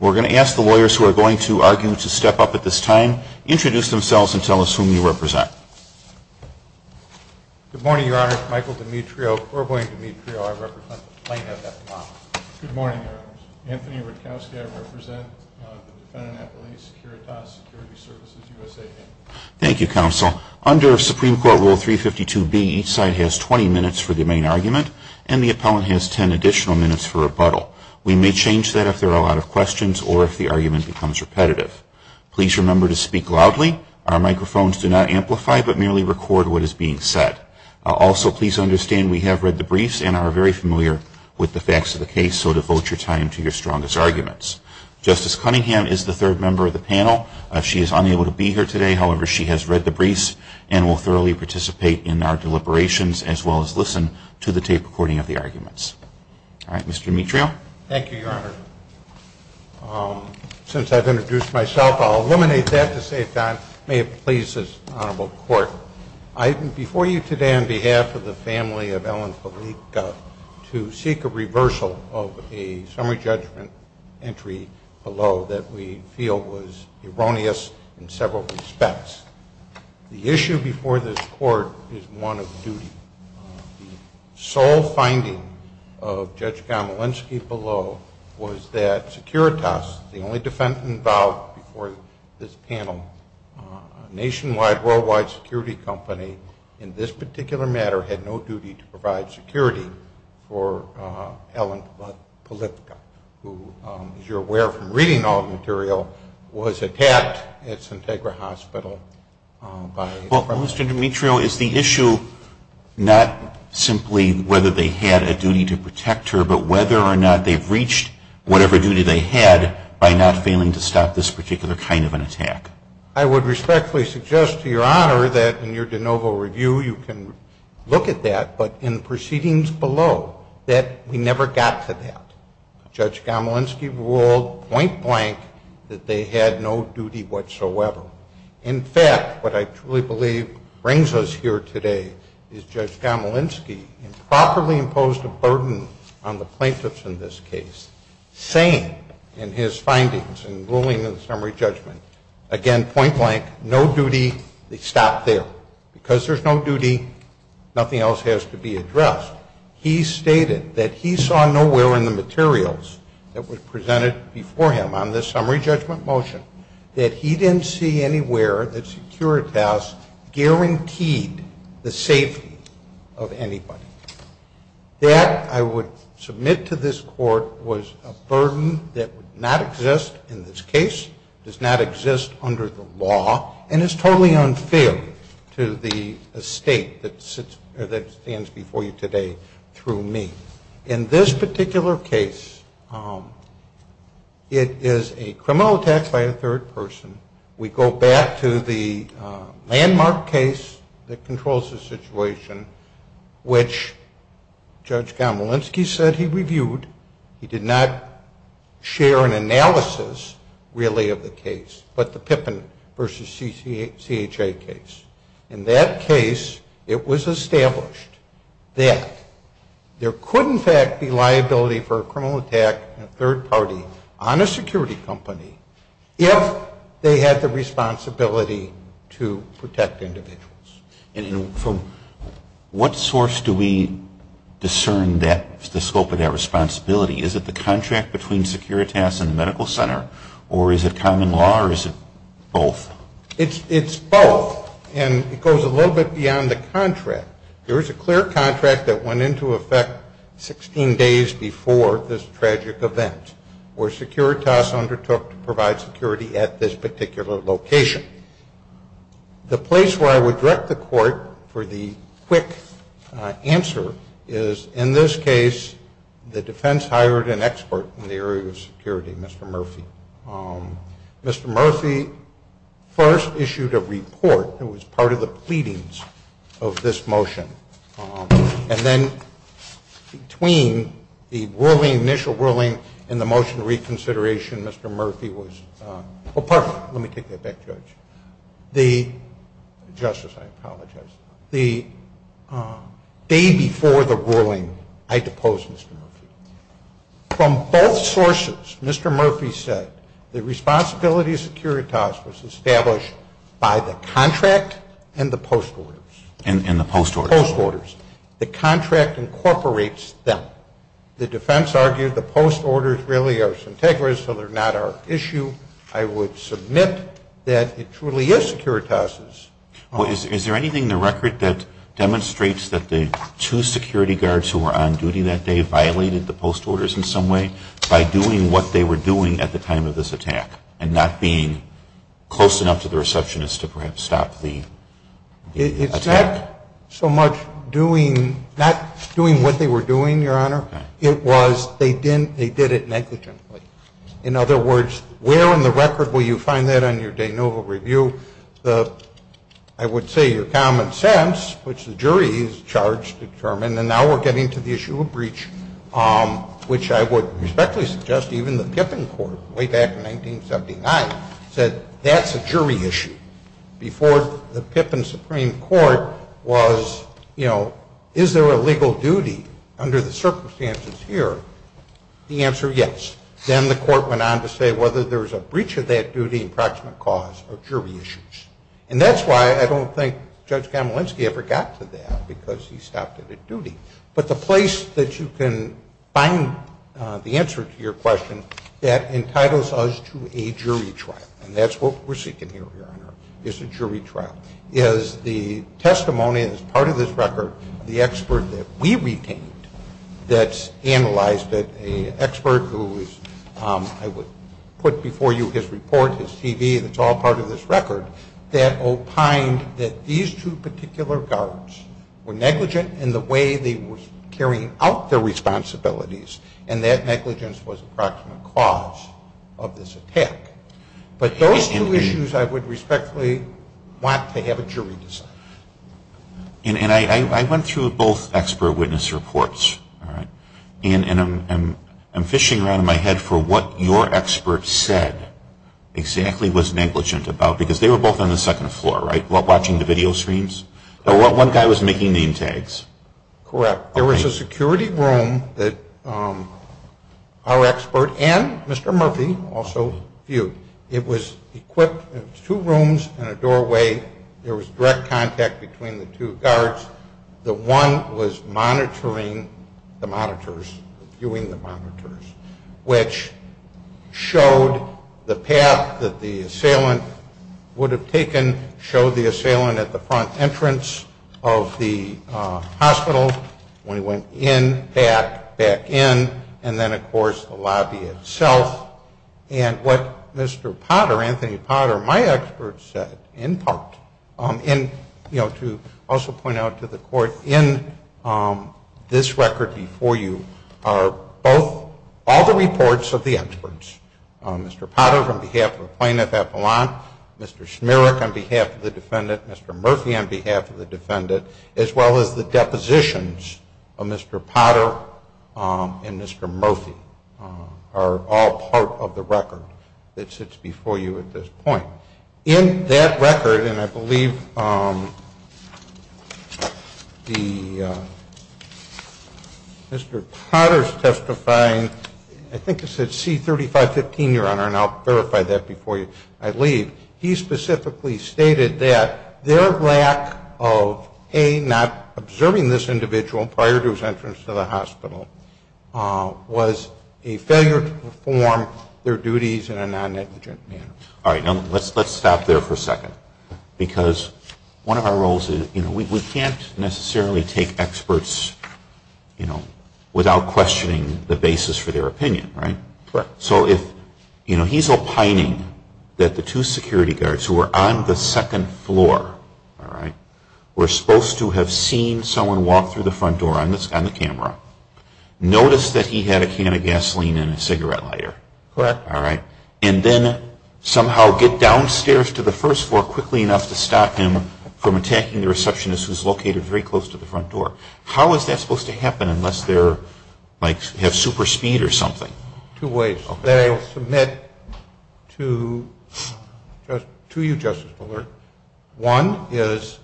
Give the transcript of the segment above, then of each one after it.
We're going to ask the lawyers who are going to argue to step up at this time, introduce themselves, and tell us whom you represent. Good morning, Your Honor. Michael Dimitrio, or William Dimitrio. I represent the plaintiff at the moment. Good morning, Your Honors. Anthony Rutkowski. I represent the defendant at police, Securitas Security Services USA, Inc. Thank you, Counsel. Under Supreme Court Rule 352B, each side has 20 minutes for the main argument, and the appellant has 10 additional minutes for rebuttal. We may change that if there are a lot of questions or if the argument becomes repetitive. Please remember to speak loudly. Our microphones do not amplify, but merely record what is being said. Also, please understand we have read the briefs and are very familiar with the facts of the case, so devote your time to your strongest arguments. Justice Cunningham is the third member of the panel. She is unable to be here today. However, she has read the briefs and will thoroughly participate in our deliberations as well as listen to the tape recording of the arguments. All right. Mr. Dimitrio? Thank you, Your Honor. Since I've introduced myself, I'll eliminate that to save time. May it please this Honorable Court, I'm before you today on behalf of the family of Ellen Felika to seek a reversal of a summary judgment entry below that we feel was erroneous in several respects. The issue before this Court is one of duty. The sole finding of Judge Gomelinsky below was that Securitas, the only defendant involved before this panel, a nationwide, worldwide security company, in this particular matter had no duty to provide security for Ellen Felika, who, as you're aware from reading all the material, was attacked at Sintagra Hospital by the federal government. Well, Mr. Dimitrio, is the issue not simply whether they had a duty to protect her, but whether or not they've reached whatever duty they had by not failing to stop this particular kind of an attack? I would respectfully suggest to Your Honor that in your de novo review you can look at that, but in the proceedings below, that we never got to that. Judge Gomelinsky ruled point blank that they had no duty whatsoever. In fact, what I truly believe brings us here today is Judge Gomelinsky improperly imposed a burden on the plaintiffs in this case, saying in his findings and ruling in the summary judgment, again, point blank, no duty, they stopped there. Because there's no duty, nothing else has to be addressed. He stated that he saw nowhere in the materials that were presented before him on this summary judgment motion that he didn't see anywhere that Securitas guaranteed the safety of anybody. That, I would submit to this Court, was a burden that would not exist in this case, does not exist under the law, and is totally unfair to the estate that stands before you today through me. In this particular case, it is a criminal attack by a third person. We go back to the landmark case that controls the situation, which Judge Gomelinsky said he reviewed. He did not share an analysis, really, of the case, but the Pippin v. CHA case. In that case, it was established that there could, in fact, be liability for a criminal attack by a third party on a security company if they had the responsibility to protect individuals. And from what source do we discern the scope of that responsibility? Is it the contract between Securitas and the Medical Center, or is it common law, or is it both? It's both, and it goes a little bit beyond the contract. There is a clear contract that went into effect 16 days before this tragic event, where Securitas undertook to provide security at this particular location. The place where I would direct the Court for the quick answer is, in this case, the defense hired an expert in the area of security, Mr. Murphy. Mr. Murphy first issued a report that was part of the pleadings of this motion, and then between the initial ruling and the motion of reconsideration, Mr. Murphy was- Let me take that back, Judge. Justice, I apologize. The day before the ruling, I deposed Mr. Murphy. From both sources, Mr. Murphy said the responsibility of Securitas was established by the contract and the post orders. And the post orders. Post orders. The contract incorporates them. The defense argued the post orders really are centegrous, so they're not our issue. I would submit that it truly is Securitas'. Well, is there anything in the record that demonstrates that the two security guards who were on duty that day violated the post orders in some way by doing what they were doing at the time of this attack and not being close enough to the receptionist to perhaps stop the attack? It's not so much not doing what they were doing, Your Honor. It was they did it negligently. In other words, where in the record will you find that on your de novo review? I would say your common sense, which the jury is charged to determine, and now we're getting to the issue of breach, which I would respectfully suggest even the Pippin court way back in 1979 said that's a jury issue. Before the Pippin Supreme Court was, you know, is there a legal duty under the circumstances here? The answer, yes. Then the court went on to say whether there was a breach of that duty in proximate cause or jury issues. And that's why I don't think Judge Kamalinsky ever got to that because he stopped it at duty. But the place that you can find the answer to your question that entitles us to a jury trial, and that's what we're seeking here, Your Honor, is a jury trial, is the testimony that's part of this record, the expert that we retained that's analyzed it, an expert who is, I would put before you his report, his TV, that's all part of this record, that opined that these two particular guards were negligent in the way they were carrying out their responsibilities, and that negligence was a proximate cause of this attack. But those two issues I would respectfully want to have a jury decide. And I went through both expert witness reports, all right, and I'm fishing around in my head for what your expert said exactly was negligent about, because they were both on the second floor, right, watching the video screens. One guy was making name tags. Correct. There was a security room that our expert and Mr. Murphy also viewed. It was equipped, it was two rooms and a doorway. There was direct contact between the two guards. The one was monitoring the monitors, viewing the monitors, which showed the path that the assailant would have taken, showed the assailant at the front entrance of the hospital when he went in, back, back in, and then, of course, the lobby itself. And what Mr. Potter, Anthony Potter, my expert said, in part, and, you know, to also point out to the Court, in this record before you are both all the reports of the experts, Mr. Potter on behalf of Plaintiff Appellant, Mr. Schmierich on behalf of the defendant, Mr. Murphy on behalf of the defendant, as well as the depositions of Mr. Potter and Mr. Murphy are all part of the record that sits before you at this point. In that record, and I believe Mr. Potter is testifying, I think it said C3515, Your Honor, and I'll verify that before I leave, he specifically stated that their lack of, A, not observing this individual prior to his entrance to the hospital, was a failure to perform their duties in a non-negligent manner. All right. Now, let's stop there for a second. Because one of our roles is, you know, we can't necessarily take experts, you know, without questioning the basis for their opinion, right? Correct. So if, you know, he's opining that the two security guards who were on the second floor, all right, were supposed to have seen someone walk through the front door on the camera, noticed that he had a can of gasoline and a cigarette lighter. Correct. All right. And then somehow get downstairs to the first floor quickly enough to stop him from attacking the receptionist who's located very close to the front door. How is that supposed to happen unless they're, like, have super speed or something? Two ways. Okay. I'll submit to you, Justice Bullard, one is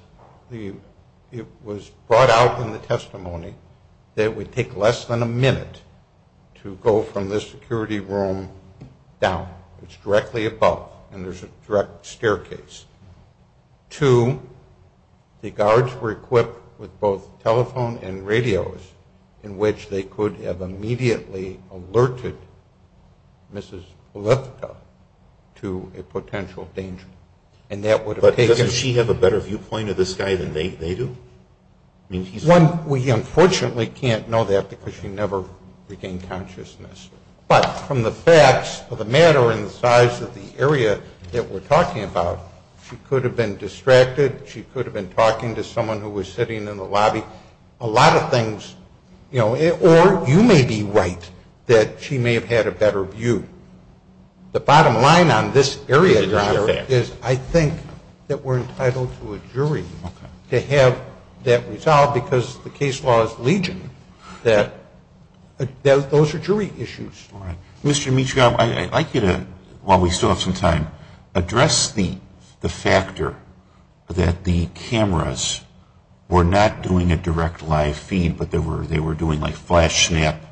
it was brought out in the testimony that it would take less than a minute to go from this security room down. It's directly above, and there's a direct staircase. Two, the guards were equipped with both telephone and radios in which they could have immediately alerted Mrs. Polito to a potential danger. And that would have taken… But doesn't she have a better viewpoint of this guy than they do? One, we unfortunately can't know that because she never regained consciousness. But from the facts of the matter and the size of the area that we're talking about, she could have been distracted. She could have been talking to someone who was sitting in the lobby. A lot of things, you know, or you may be right that she may have had a better view. The bottom line on this area is I think that we're entitled to a jury to have that resolved because the case law is legion that those are jury issues. All right. Mr. Dimitrioff, I'd like you to, while we still have some time, address the factor that the cameras were not doing a direct live feed, but they were doing like flash snap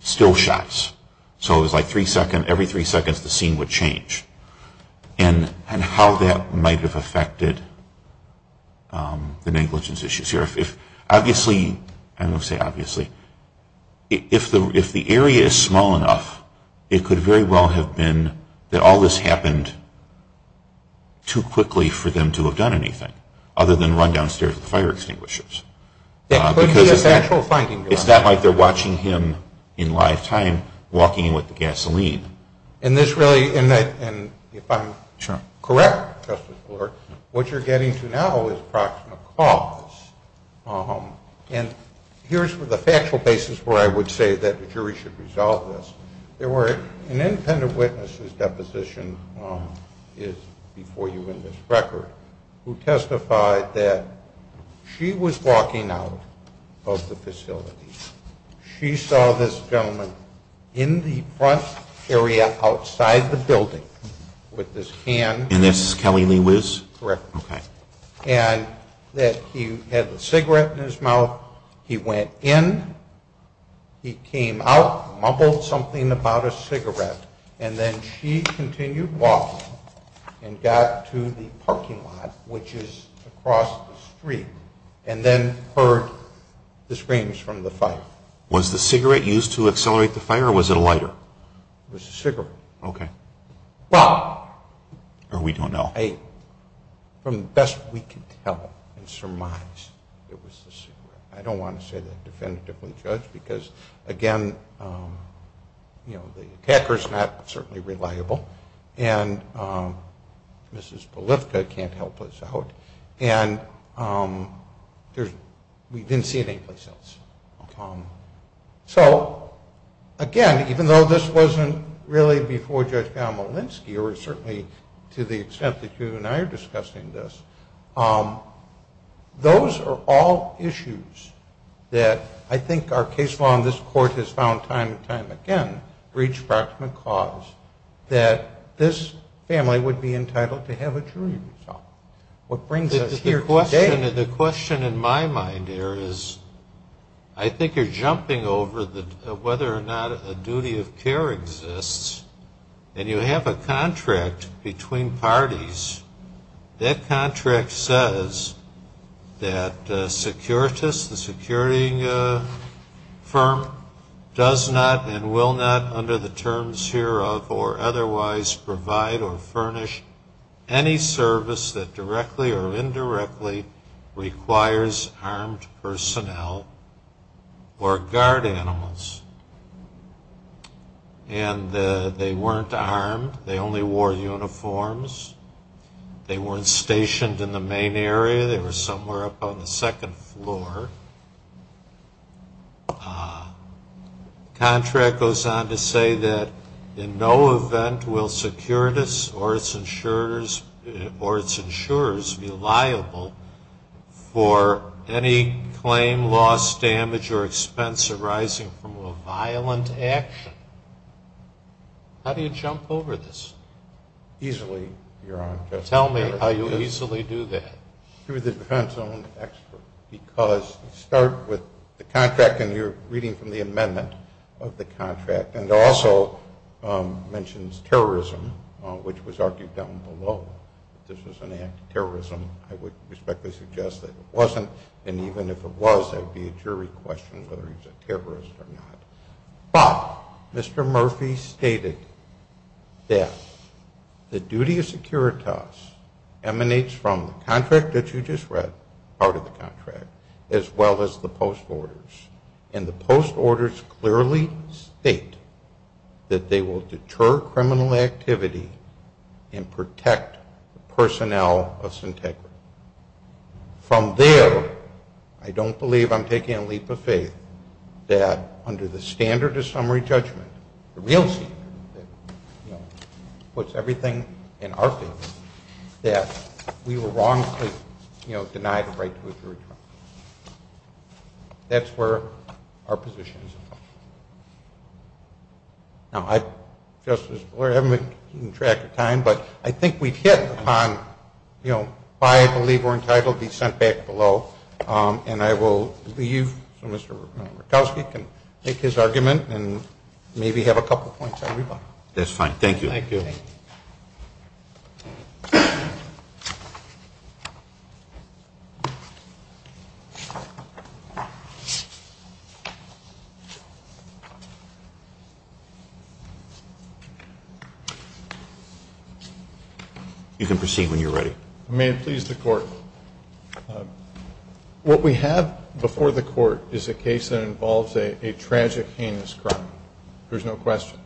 still shots. So it was like every three seconds the scene would change. And how that might have affected the negligence issues here. Obviously, I don't want to say obviously, if the area is small enough, it could very well have been that all this happened too quickly for them to have done anything other than run downstairs to the fire extinguishers. That could be a factual finding. It's not like they're watching him in live time walking in with the gasoline. And this really, and if I'm correct, Justice Brewer, what you're getting to now is approximate cause. And here's the factual basis where I would say that the jury should resolve this. There were an independent witness whose deposition is before you in this record who testified that she was walking out of the facility. She saw this gentleman in the front area outside the building with his hand. And this is Kelly Lewis? Correct. Okay. And that he had a cigarette in his mouth. He went in. He came out, mumbled something about a cigarette, and then she continued walking and got to the parking lot, which is across the street, and then heard the screams from the fire. Was the cigarette used to accelerate the fire, or was it a lighter? It was a cigarette. Okay. Well. Or we don't know. I don't want to say that definitively, Judge, because, again, you know, the attacker is not certainly reliable, and Mrs. Polifka can't help us out, and we didn't see it anyplace else. So, again, even though this wasn't really before Judge Malinsky, or certainly to the extent that you and I are discussing this, those are all issues that I think our case law in this court has found time and time again, breach of proximate cause, that this family would be entitled to have a jury result. What brings us here today. The question in my mind here is I think you're jumping over whether or not a duty of care exists, and you have a contract between parties. That contract says that the security firm does not and will not under the terms hereof or otherwise provide or furnish any service that directly or indirectly requires armed personnel or guard animals. And they weren't armed. They only wore uniforms. They weren't stationed in the main area. They were somewhere up on the second floor. The contract goes on to say that in no event will securities or its insurers be liable for any claim, loss, damage, or expense arising from a violent action. How do you jump over this? Easily, Your Honor. Tell me how you easily do that. Through the defense zone expert, because you start with the contract and you're reading from the amendment of the contract. And it also mentions terrorism, which was argued down below. If this was an act of terrorism, I would respectfully suggest that it wasn't. And even if it was, there would be a jury question whether he was a terrorist or not. But Mr. Murphy stated that the duty of securities emanates from the contract that you just read, part of the contract, as well as the post orders. And the post orders clearly state that they will deter criminal activity and protect the personnel of Syntagma. From there, I don't believe I'm taking a leap of faith that under the standard of summary judgment, the real standard that puts everything in our favor, that we were wrongfully denied the right to a jury trial. That's where our position is. Now, Justice Breyer, I haven't been keeping track of time, but I think we've hit upon why I believe we're entitled to be sent back below. And I will leave so Mr. Murkowski can make his argument and maybe have a couple points everybody. That's fine. Thank you. Thank you. You can proceed when you're ready. May it please the Court. What we have before the Court is a case that involves a tragic heinous crime. There's no question.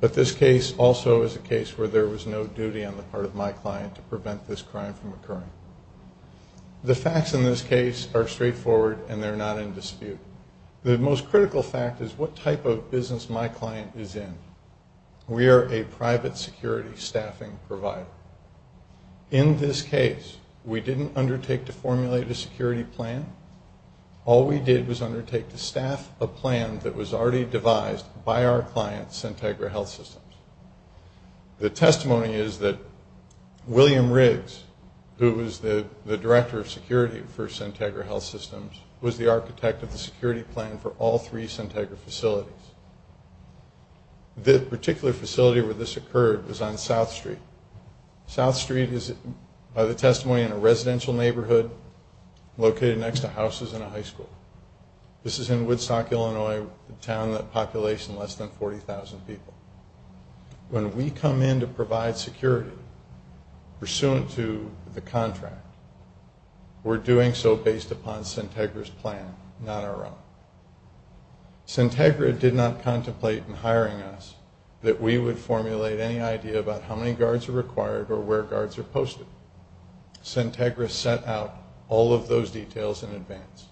But this case also is a case where there was no duty on the part of my client to prevent this crime from occurring. The facts in this case are straightforward and they're not in dispute. The most critical fact is what type of business my client is in. We are a private security staffing provider. In this case, we didn't undertake to formulate a security plan. All we did was undertake to staff a plan that was already devised by our client, Centegra Health Systems. The testimony is that William Riggs, who was the director of security for Centegra Health Systems, was the architect of the security plan for all three Centegra facilities. The particular facility where this occurred was on South Street. South Street is, by the testimony, in a residential neighborhood located next to houses in a high school. This is in Woodstock, Illinois, a town with a population less than 40,000 people. When we come in to provide security pursuant to the contract, we're doing so based upon Centegra's plan, not our own. Centegra did not contemplate in hiring us that we would formulate any idea about how many guards are required or where guards are posted. Centegra set out all of those details in advance.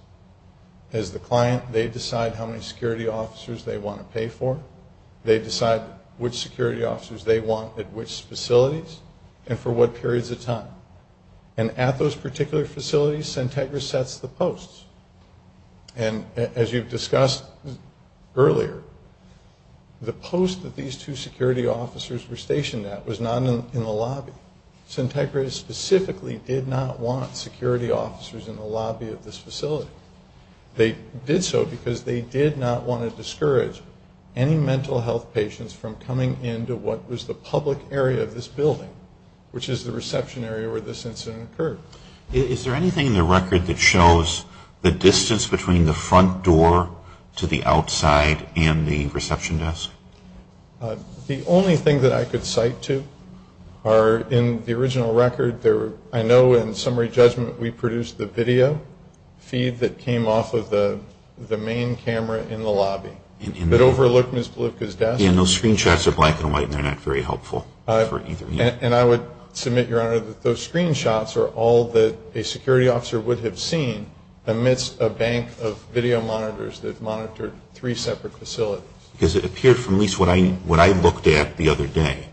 As the client, they decide how many security officers they want to pay for. They decide which security officers they want at which facilities and for what periods of time. At those particular facilities, Centegra sets the posts. As you've discussed earlier, the post that these two security officers were stationed at was not in the lobby. Centegra specifically did not want security officers in the lobby of this facility. They did so because they did not want to discourage any mental health patients from coming into what was the public area of this building, which is the reception area where this incident occurred. Is there anything in the record that shows the distance between the front door to the outside and the reception desk? The only thing that I could cite to are in the original record, I know in summary judgment we produced the video feed that came off of the main camera in the lobby. It overlooked Ms. Bluka's desk. Those screenshots are black and white and they're not very helpful. And I would submit, Your Honor, that those screenshots are all that a security officer would have seen amidst a bank of video monitors that monitored three separate facilities. Because it appeared from at least what I looked at the other day,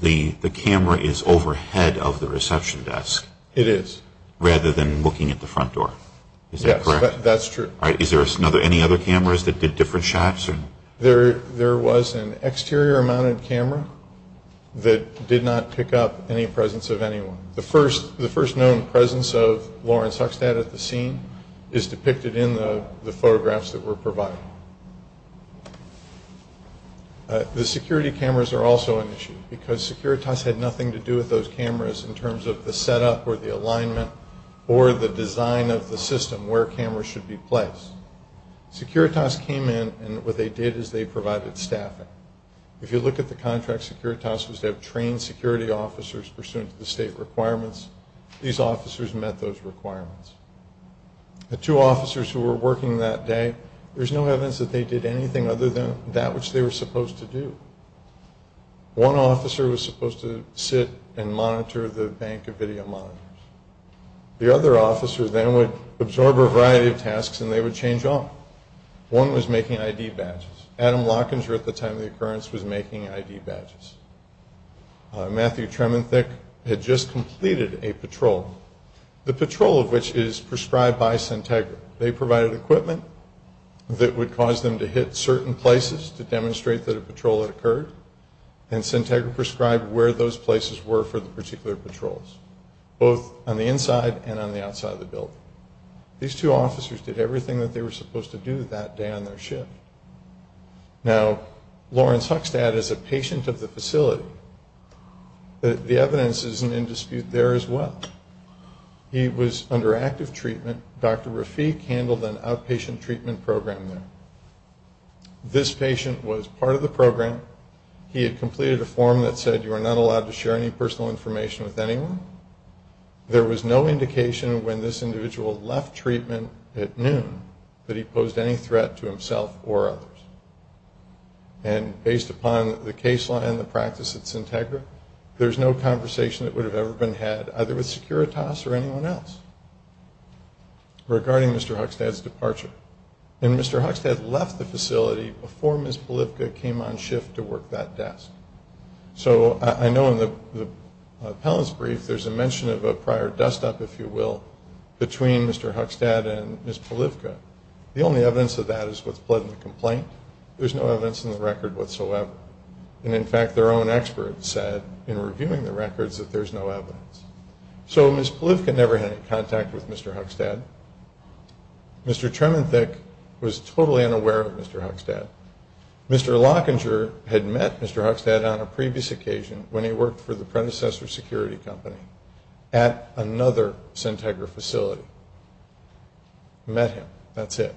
the camera is overhead of the reception desk. It is. Rather than looking at the front door. Is that correct? Yes, that's true. Is there any other cameras that did different shots? There was an exterior mounted camera that did not pick up any presence of anyone. The first known presence of Lawrence Huxtad at the scene is depicted in the photographs that were provided. The security cameras are also an issue because Securitas had nothing to do with those cameras in terms of the setup or the alignment or the design of the system where cameras should be placed. Securitas came in and what they did is they provided staffing. If you look at the contract, Securitas was to have trained security officers pursuant to the state requirements. These officers met those requirements. The two officers who were working that day, there's no evidence that they did anything other than that which they were supposed to do. One officer was supposed to sit and monitor the bank of video monitors. The other officer then would absorb a variety of tasks and they would change off. One was making ID badges. Adam Lockinger at the time of the occurrence was making ID badges. Matthew Trementhick had just completed a patrol, the patrol of which is prescribed by Sintegra. They provided equipment that would cause them to hit certain places to demonstrate that a patrol had occurred, and Sintegra prescribed where those places were for the particular patrols, both on the inside and on the outside of the building. These two officers did everything that they were supposed to do that day on their shift. Now, Lawrence Huckstadt is a patient of the facility. The evidence isn't in dispute there as well. He was under active treatment. Dr. Rafik handled an outpatient treatment program there. This patient was part of the program. He had completed a form that said, you are not allowed to share any personal information with anyone. There was no indication when this individual left treatment at noon that he posed any threat to himself or others. And based upon the case law and the practice at Sintegra, there's no conversation that would have ever been had either with Securitas or anyone else regarding Mr. Huckstadt's departure. And Mr. Huckstadt left the facility before Ms. Bolivka came on shift to work that desk. So I know in the appellant's brief there's a mention of a prior dust-up, if you will, between Mr. Huckstadt and Ms. Bolivka. The only evidence of that is what's pled in the complaint. There's no evidence in the record whatsoever. And, in fact, their own experts said in reviewing the records that there's no evidence. So Ms. Bolivka never had any contact with Mr. Huckstadt. Mr. Tremendthick was totally unaware of Mr. Huckstadt. Mr. Lockinger had met Mr. Huckstadt on a previous occasion when he worked for the predecessor security company at another Sintegra facility. Met him. That's it.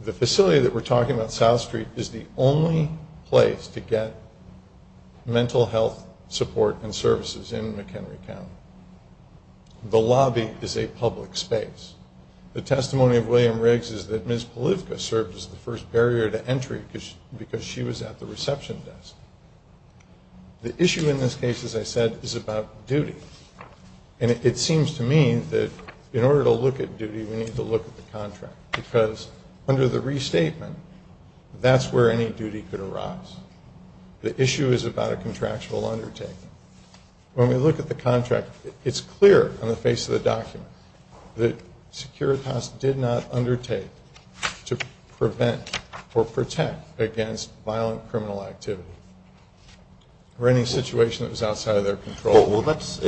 The facility that we're talking about, South Street, is the only place to get mental health support and services in McHenry County. The lobby is a public space. The testimony of William Riggs is that Ms. Bolivka served as the first barrier to entry because she was at the reception desk. The issue in this case, as I said, is about duty. And it seems to me that in order to look at duty, we need to look at the contract because under the restatement, that's where any duty could arise. The issue is about a contractual undertaking. When we look at the contract, it's clear on the face of the document that Securitas did not undertake to prevent or protect against violent criminal activity or any situation that was outside of their control. Well, let's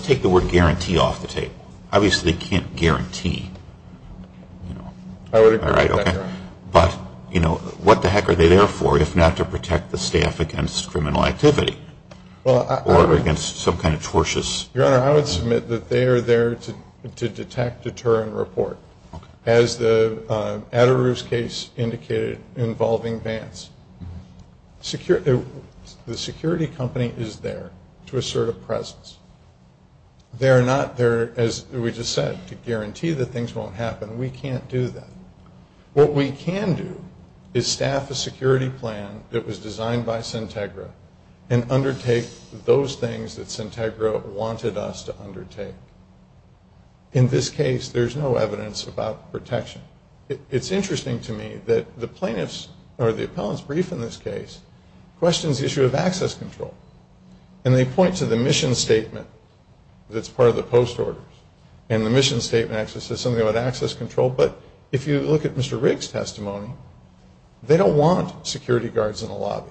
take the word guarantee off the tape. Obviously they can't guarantee. I would agree with that, Your Honor. But, you know, what the heck are they there for if not to protect the staff against criminal activity or against some kind of tortious? Your Honor, I would submit that they are there to detect, deter, and report. As the Adaroos case indicated, involving Vance. The security company is there to assert a presence. They are not there, as we just said, to guarantee that things won't happen. We can't do that. What we can do is staff a security plan that was designed by Sintegra and undertake those things that Sintegra wanted us to undertake. In this case, there's no evidence about protection. It's interesting to me that the plaintiff's or the appellant's brief in this case questions the issue of access control. And they point to the mission statement that's part of the post order. And the mission statement actually says something about access control. But if you look at Mr. Rigg's testimony, they don't want security guards in the lobby.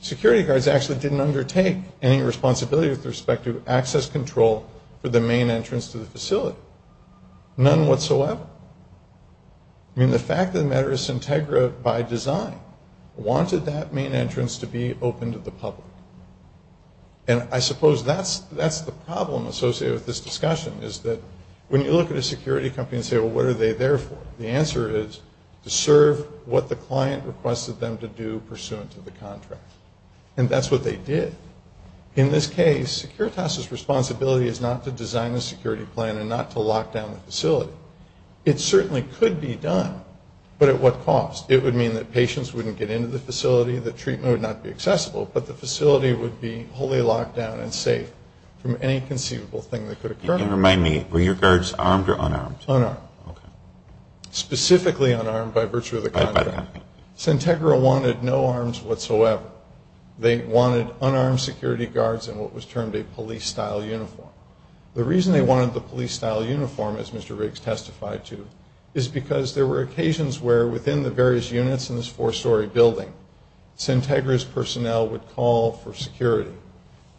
Security guards actually didn't undertake any responsibility with respect to access control for the main entrance to the facility. None whatsoever. I mean, the fact of the matter is Sintegra, by design, wanted that main entrance to be open to the public. And I suppose that's the problem associated with this discussion, is that when you look at a security company and say, well, what are they there for? The answer is to serve what the client requested them to do pursuant to the contract. And that's what they did. In this case, Securitas' responsibility is not to design a security plan and not to lock down the facility. It certainly could be done, but at what cost? It would mean that patients wouldn't get into the facility, the treatment would not be accessible, but the facility would be wholly locked down and safe from any conceivable thing that could occur. And remind me, were your guards armed or unarmed? Unarmed. Specifically unarmed by virtue of the contract. Sintegra wanted no arms whatsoever. They wanted unarmed security guards in what was termed a police-style uniform. The reason they wanted the police-style uniform, as Mr. Riggs testified to, is because there were occasions where within the various units in this four-story building, Sintegra's personnel would call for security.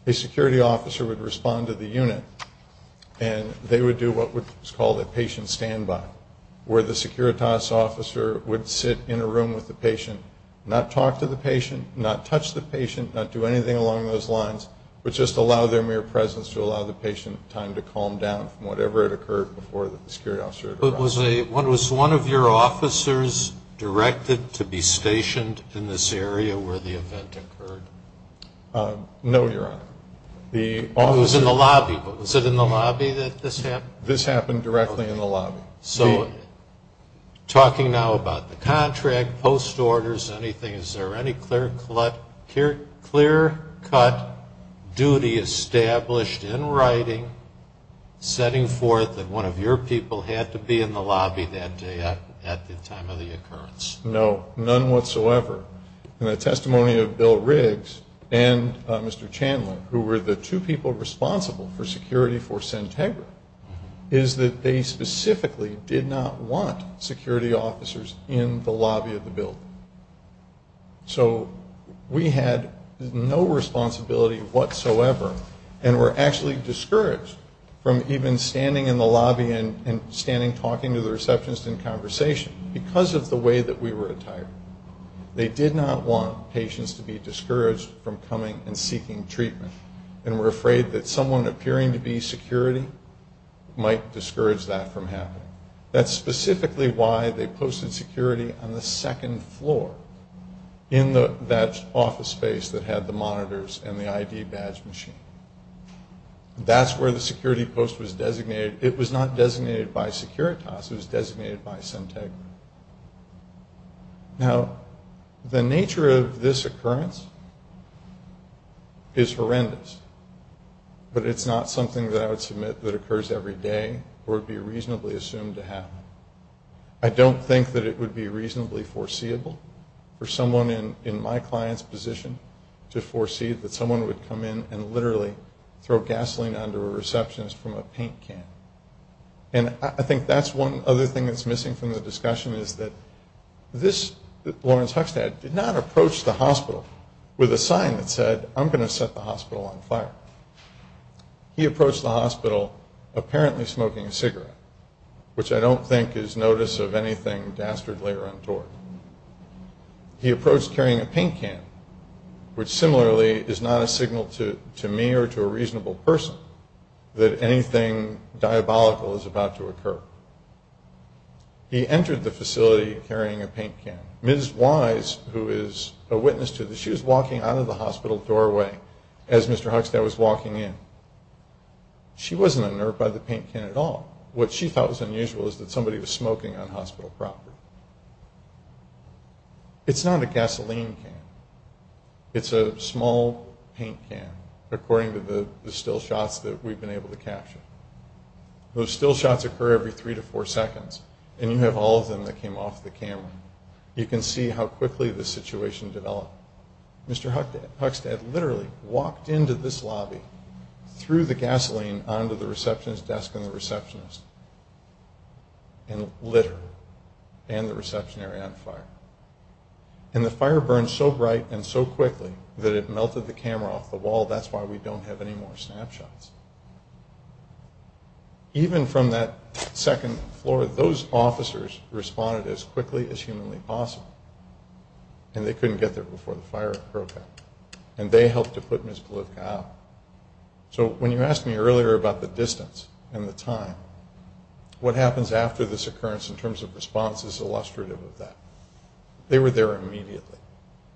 A security officer would respond to the unit, and they would do what was called a patient standby, where the Securitas officer would sit in a room with the patient, not talk to the patient, not touch the patient, not do anything along those lines, but just allow their mere presence to allow the patient time to calm down from whatever had occurred before the security officer arrived. But was one of your officers directed to be stationed in this area where the event occurred? No, Your Honor. Who was in the lobby? Was it in the lobby that this happened? This happened directly in the lobby. So talking now about the contract, post-orders, anything, is there any clear-cut duty established in writing, setting forth that one of your people had to be in the lobby that day at the time of the occurrence? No, none whatsoever. And the testimony of Bill Riggs and Mr. Chandler, who were the two people responsible for security for Sintegra, is that they specifically did not want security officers in the lobby of the building. So we had no responsibility whatsoever, and were actually discouraged from even standing in the lobby and standing talking to the receptionist in conversation because of the way that we were attired. They did not want patients to be discouraged from coming and seeking treatment, and were afraid that someone appearing to be security might discourage that from happening. That's specifically why they posted security on the second floor in that office space that had the monitors and the ID badge machine. That's where the security post was designated. It was not designated by Securitas. It was designated by Sintegra. Now, the nature of this occurrence is horrendous, but it's not something that I would submit that occurs every day or would be reasonably assumed to happen. I don't think that it would be reasonably foreseeable for someone in my client's position to foresee that someone would come in and literally throw gasoline under a receptionist from a paint can. And I think that's one other thing that's missing from the discussion, is that this Lawrence Huxtad did not approach the hospital with a sign that said, I'm going to set the hospital on fire. He approached the hospital apparently smoking a cigarette, which I don't think is notice of anything dastardly or untoward. He approached carrying a paint can, which similarly is not a signal to me or to a reasonable person that anything diabolical is about to occur. He entered the facility carrying a paint can. Ms. Wise, who is a witness to this, she was walking out of the hospital doorway as Mr. Huxtad was walking in. She wasn't unnerved by the paint can at all. What she thought was unusual is that somebody was smoking on hospital property. It's not a gasoline can. It's a small paint can, according to the still shots that we've been able to capture. Those still shots occur every three to four seconds, and you have all of them that came off the camera. You can see how quickly the situation developed. Mr. Huxtad literally walked into this lobby, threw the gasoline onto the receptionist's desk and the receptionist, and lit her and the reception area on fire. And the fire burned so bright and so quickly that it melted the camera off the wall. That's why we don't have any more snapshots. Even from that second floor, those officers responded as quickly as humanly possible, and they couldn't get there before the fire broke out, and they helped to put Ms. Kalivka out. So when you asked me earlier about the distance and the time, what happens after this occurrence in terms of response is illustrative of that. They were there immediately.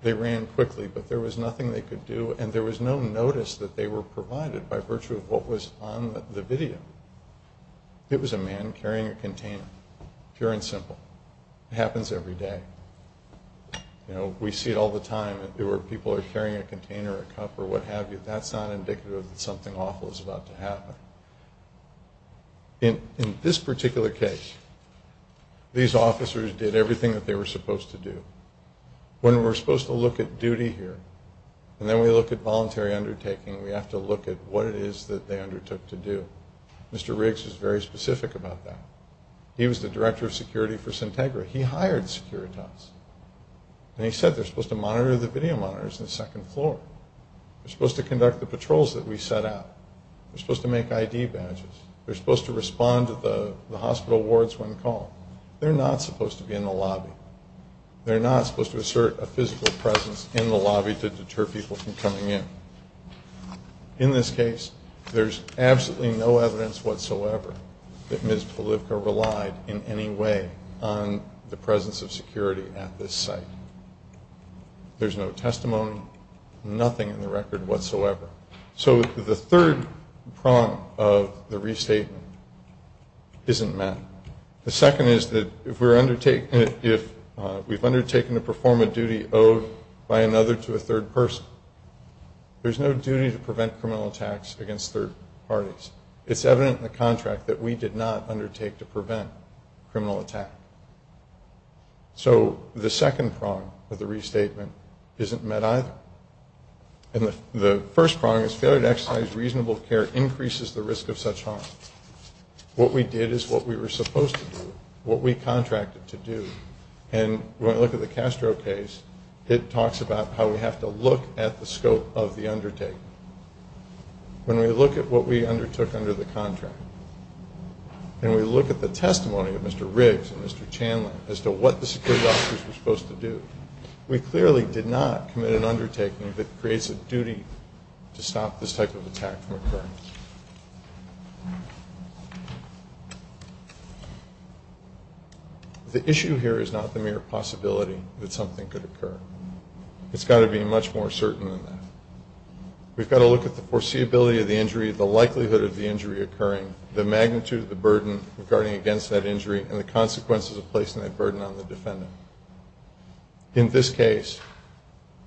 They ran quickly, but there was nothing they could do, and there was no notice that they were provided by virtue of what was on the video. It was a man carrying a container, pure and simple. It happens every day. You know, we see it all the time. People are carrying a container, a cup, or what have you. But that's not indicative that something awful is about to happen. In this particular case, these officers did everything that they were supposed to do. When we're supposed to look at duty here, and then we look at voluntary undertaking, we have to look at what it is that they undertook to do. Mr. Riggs was very specific about that. He was the director of security for Centegra. He hired securitizers, and he said they're supposed to monitor the video monitors in the second floor. They're supposed to conduct the patrols that we set out. They're supposed to make ID badges. They're supposed to respond to the hospital wards when called. They're not supposed to be in the lobby. They're not supposed to assert a physical presence in the lobby to deter people from coming in. In this case, there's absolutely no evidence whatsoever that Ms. Polivka relied in any way on the presence of security at this site. There's no testimony, nothing in the record whatsoever. So the third prong of the restatement isn't met. The second is that if we've undertaken to perform a duty owed by another to a third person, there's no duty to prevent criminal attacks against third parties. It's evident in the contract that we did not undertake to prevent criminal attack. So the second prong of the restatement isn't met either. And the first prong is failure to exercise reasonable care increases the risk of such harm. What we did is what we were supposed to do, what we contracted to do. And when I look at the Castro case, it talks about how we have to look at the scope of the undertaking. When we look at what we undertook under the contract, and we look at the testimony of Mr. Riggs and Mr. Chandler as to what the security officers were supposed to do, we clearly did not commit an undertaking that creates a duty to stop this type of attack from occurring. The issue here is not the mere possibility that something could occur. It's got to be much more certain than that. We've got to look at the foreseeability of the injury, the likelihood of the injury occurring, the magnitude of the burden regarding against that injury, and the consequences of placing that burden on the defendant. In this case,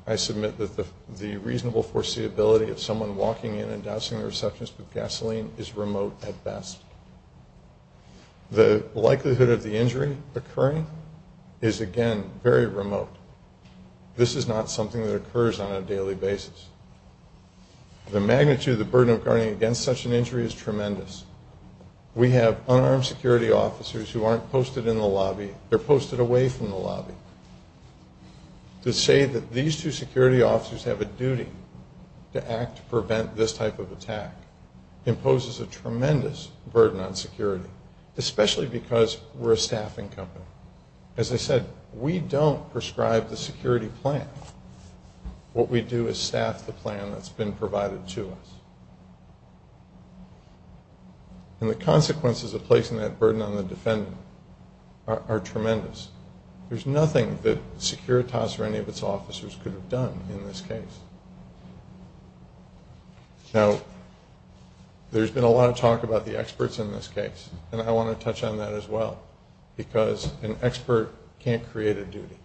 I submit that the reasonable foreseeability of someone walking in and dousing the receptions with gasoline is remote at best. The likelihood of the injury occurring is, again, very remote. This is not something that occurs on a daily basis. The magnitude of the burden regarding against such an injury is tremendous. We have unarmed security officers who aren't posted in the lobby. They're posted away from the lobby. To say that these two security officers have a duty to act to prevent this type of attack imposes a tremendous burden on security, especially because we're a staffing company. As I said, we don't prescribe the security plan. What we do is staff the plan that's been provided to us. The consequences of placing that burden on the defendant are tremendous. There's nothing that Securitas or any of its officers could have done in this case. Now, there's been a lot of talk about the experts in this case, and I want to touch on that as well because an expert can't create a duty.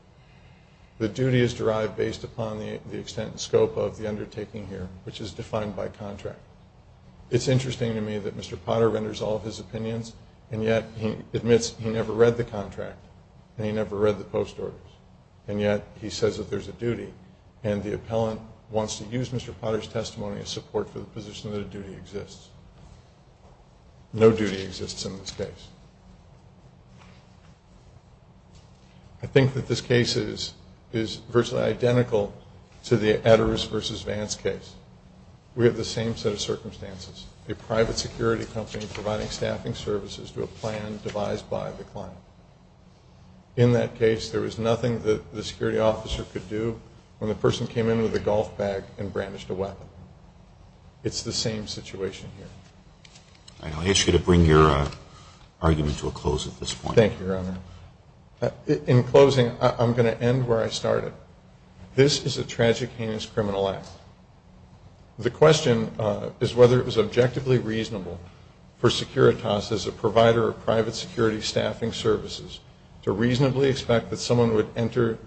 The duty is derived based upon the extent and scope of the undertaking here, which is defined by contract. It's interesting to me that Mr. Potter renders all of his opinions, and yet he admits he never read the contract and he never read the post orders, and yet he says that there's a duty, and the appellant wants to use Mr. Potter's testimony as support for the position that a duty exists. No duty exists in this case. I think that this case is virtually identical to the Adderis v. Vance case. We have the same set of circumstances, a private security company providing staffing services to a plan devised by the client. In that case, there was nothing that the security officer could do when the person came in with a golf bag and brandished a weapon. It's the same situation here. I ask you to bring your argument to a close at this point. Thank you, Your Honor. In closing, I'm going to end where I started. This is a tragic, heinous criminal act. The question is whether it was objectively reasonable for Securitas, as a provider of private security staffing services, to reasonably expect that someone would enter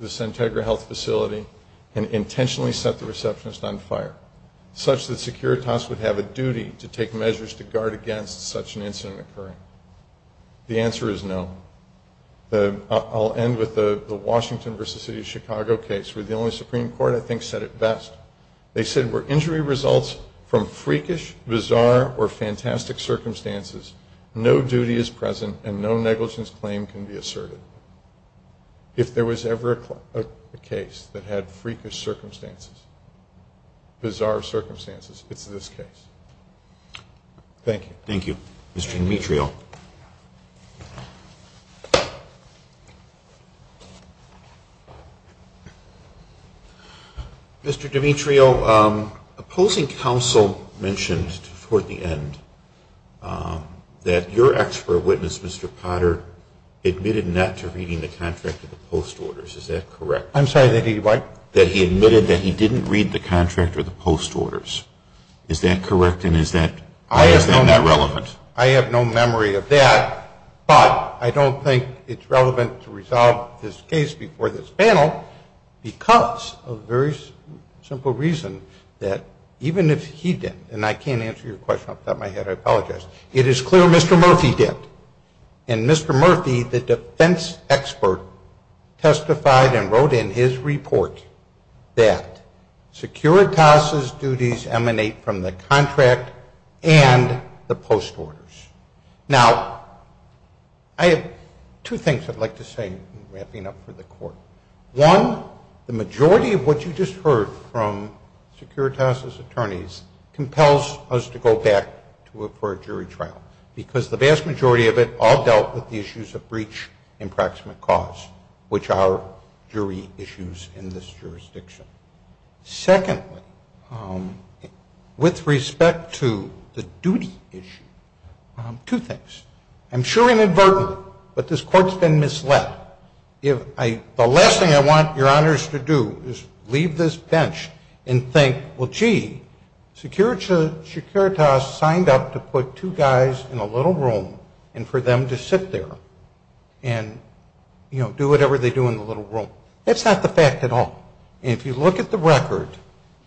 the Centegra Health facility and intentionally set the receptionist on fire, such that Securitas would have a duty to take measures to guard against such an incident occurring. The answer is no. I'll end with the Washington v. City of Chicago case, where the only Supreme Court I think said it best. They said, were injury results from freakish, bizarre, or fantastic circumstances, no duty is present and no negligence claim can be asserted. If there was ever a case that had freakish circumstances, bizarre circumstances, it's this case. Thank you. Thank you. Mr. Dimitrio. Mr. Dimitrio, opposing counsel mentioned toward the end that your expert witness, Mr. Potter, admitted not to reading the contract of the post orders. Is that correct? I'm sorry. That he admitted that he didn't read the contract of the post orders. Is that correct? And is that not relevant? I have no memory of that, but I don't think it's relevant to resolve this case before this panel, because of a very simple reason, that even if he did, and I can't answer your question off the top of my head, I apologize, it is clear Mr. Murphy did. And Mr. Murphy, the defense expert testified and wrote in his report that Securitas' duties emanate from the contract and the post orders. Now, I have two things I'd like to say, wrapping up for the court. One, the majority of what you just heard from Securitas' attorneys compels us to go back to a jury trial, because the vast majority of it all dealt with the issues of breach and approximate cause, which are jury issues in this jurisdiction. Secondly, with respect to the duty issue, two things. I'm sure inadvertently, but this court's been misled. The last thing I want your honors to do is leave this bench and think, well, gee, Securitas signed up to put two guys in a little room, and for them to sit there and, you know, do whatever they do in the little room. That's not the fact at all. And if you look at the record,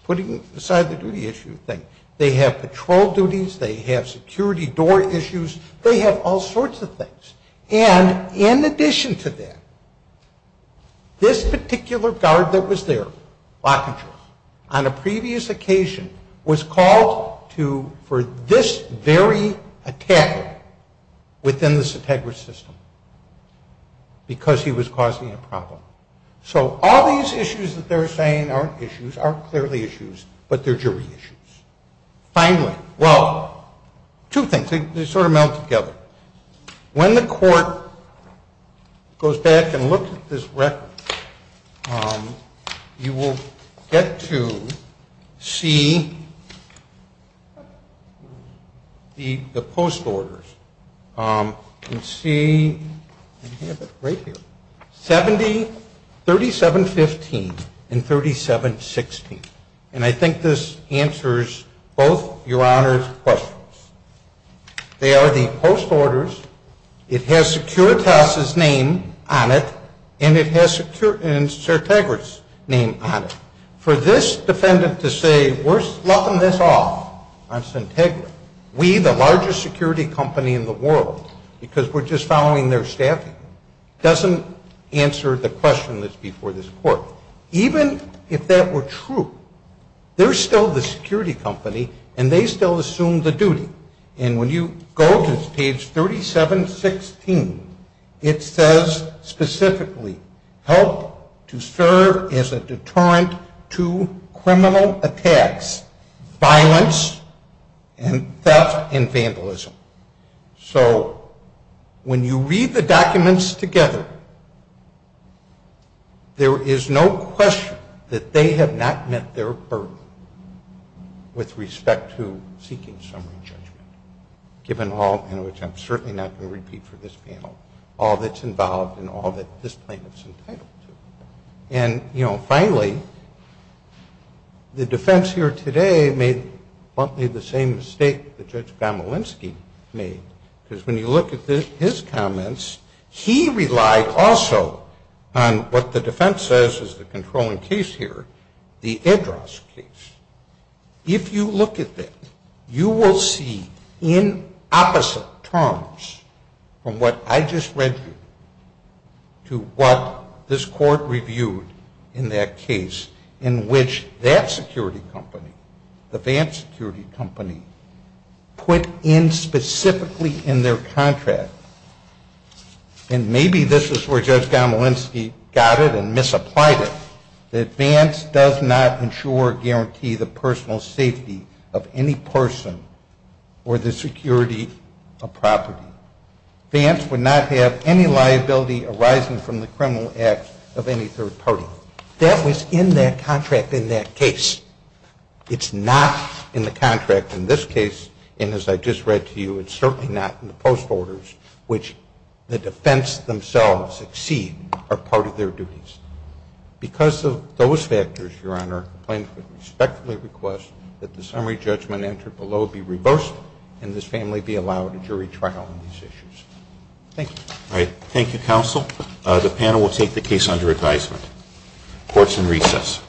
putting aside the duty issue thing, they have patrol duties, they have security door issues, they have all sorts of things. And in addition to that, this particular guard that was there, on a previous occasion was called for this very attack within the Setegra system because he was causing a problem. So all these issues that they're saying aren't issues, aren't clearly issues, but they're jury issues. Finally, well, two things. They sort of meld together. When the court goes back and looks at this record, you will get to see the post orders. You can see right here, 3715 and 3716. And I think this answers both your honors' questions. They are the post orders. It has Securitas' name on it, and it has Setegra's name on it. For this defendant to say we're sloughing this off on Setegra, we, the largest security company in the world, because we're just following their staffing, doesn't answer the question that's before this court. Even if that were true, they're still the security company, and they still assume the duty. And when you go to page 3716, it says specifically, help to serve as a deterrent to criminal attacks, violence, and theft and vandalism. So when you read the documents together, there is no question that they have not met their burden with respect to seeking summary judgment, given all, and which I'm certainly not going to repeat for this panel, all that's involved and all that this plaintiff's entitled to. And, you know, finally, the defense here today made the same mistake that Judge Gamolinsky made, because when you look at his comments, he relied also on what the defense says is the controlling case here, the Edras case. If you look at that, you will see in opposite terms from what I just read to what this court reviewed in that case, in which that security company, the Vance security company, put in specifically in their contract, and maybe this is where Judge Gamolinsky got it and misapplied it, that Vance does not ensure or guarantee the personal safety of any person or the security of property. Vance would not have any liability arising from the criminal act of any third party. That was in that contract in that case. It's not in the contract in this case, and as I just read to you, it's certainly not in the post orders, which the defense themselves exceed are part of their duties. Because of those factors, Your Honor, the plaintiff would respectfully request that the summary judgment entered below be reversed and this family be allowed a jury trial on these issues. Thank you. All right. Thank you, counsel. The panel will take the case under advisement. Court is in recess.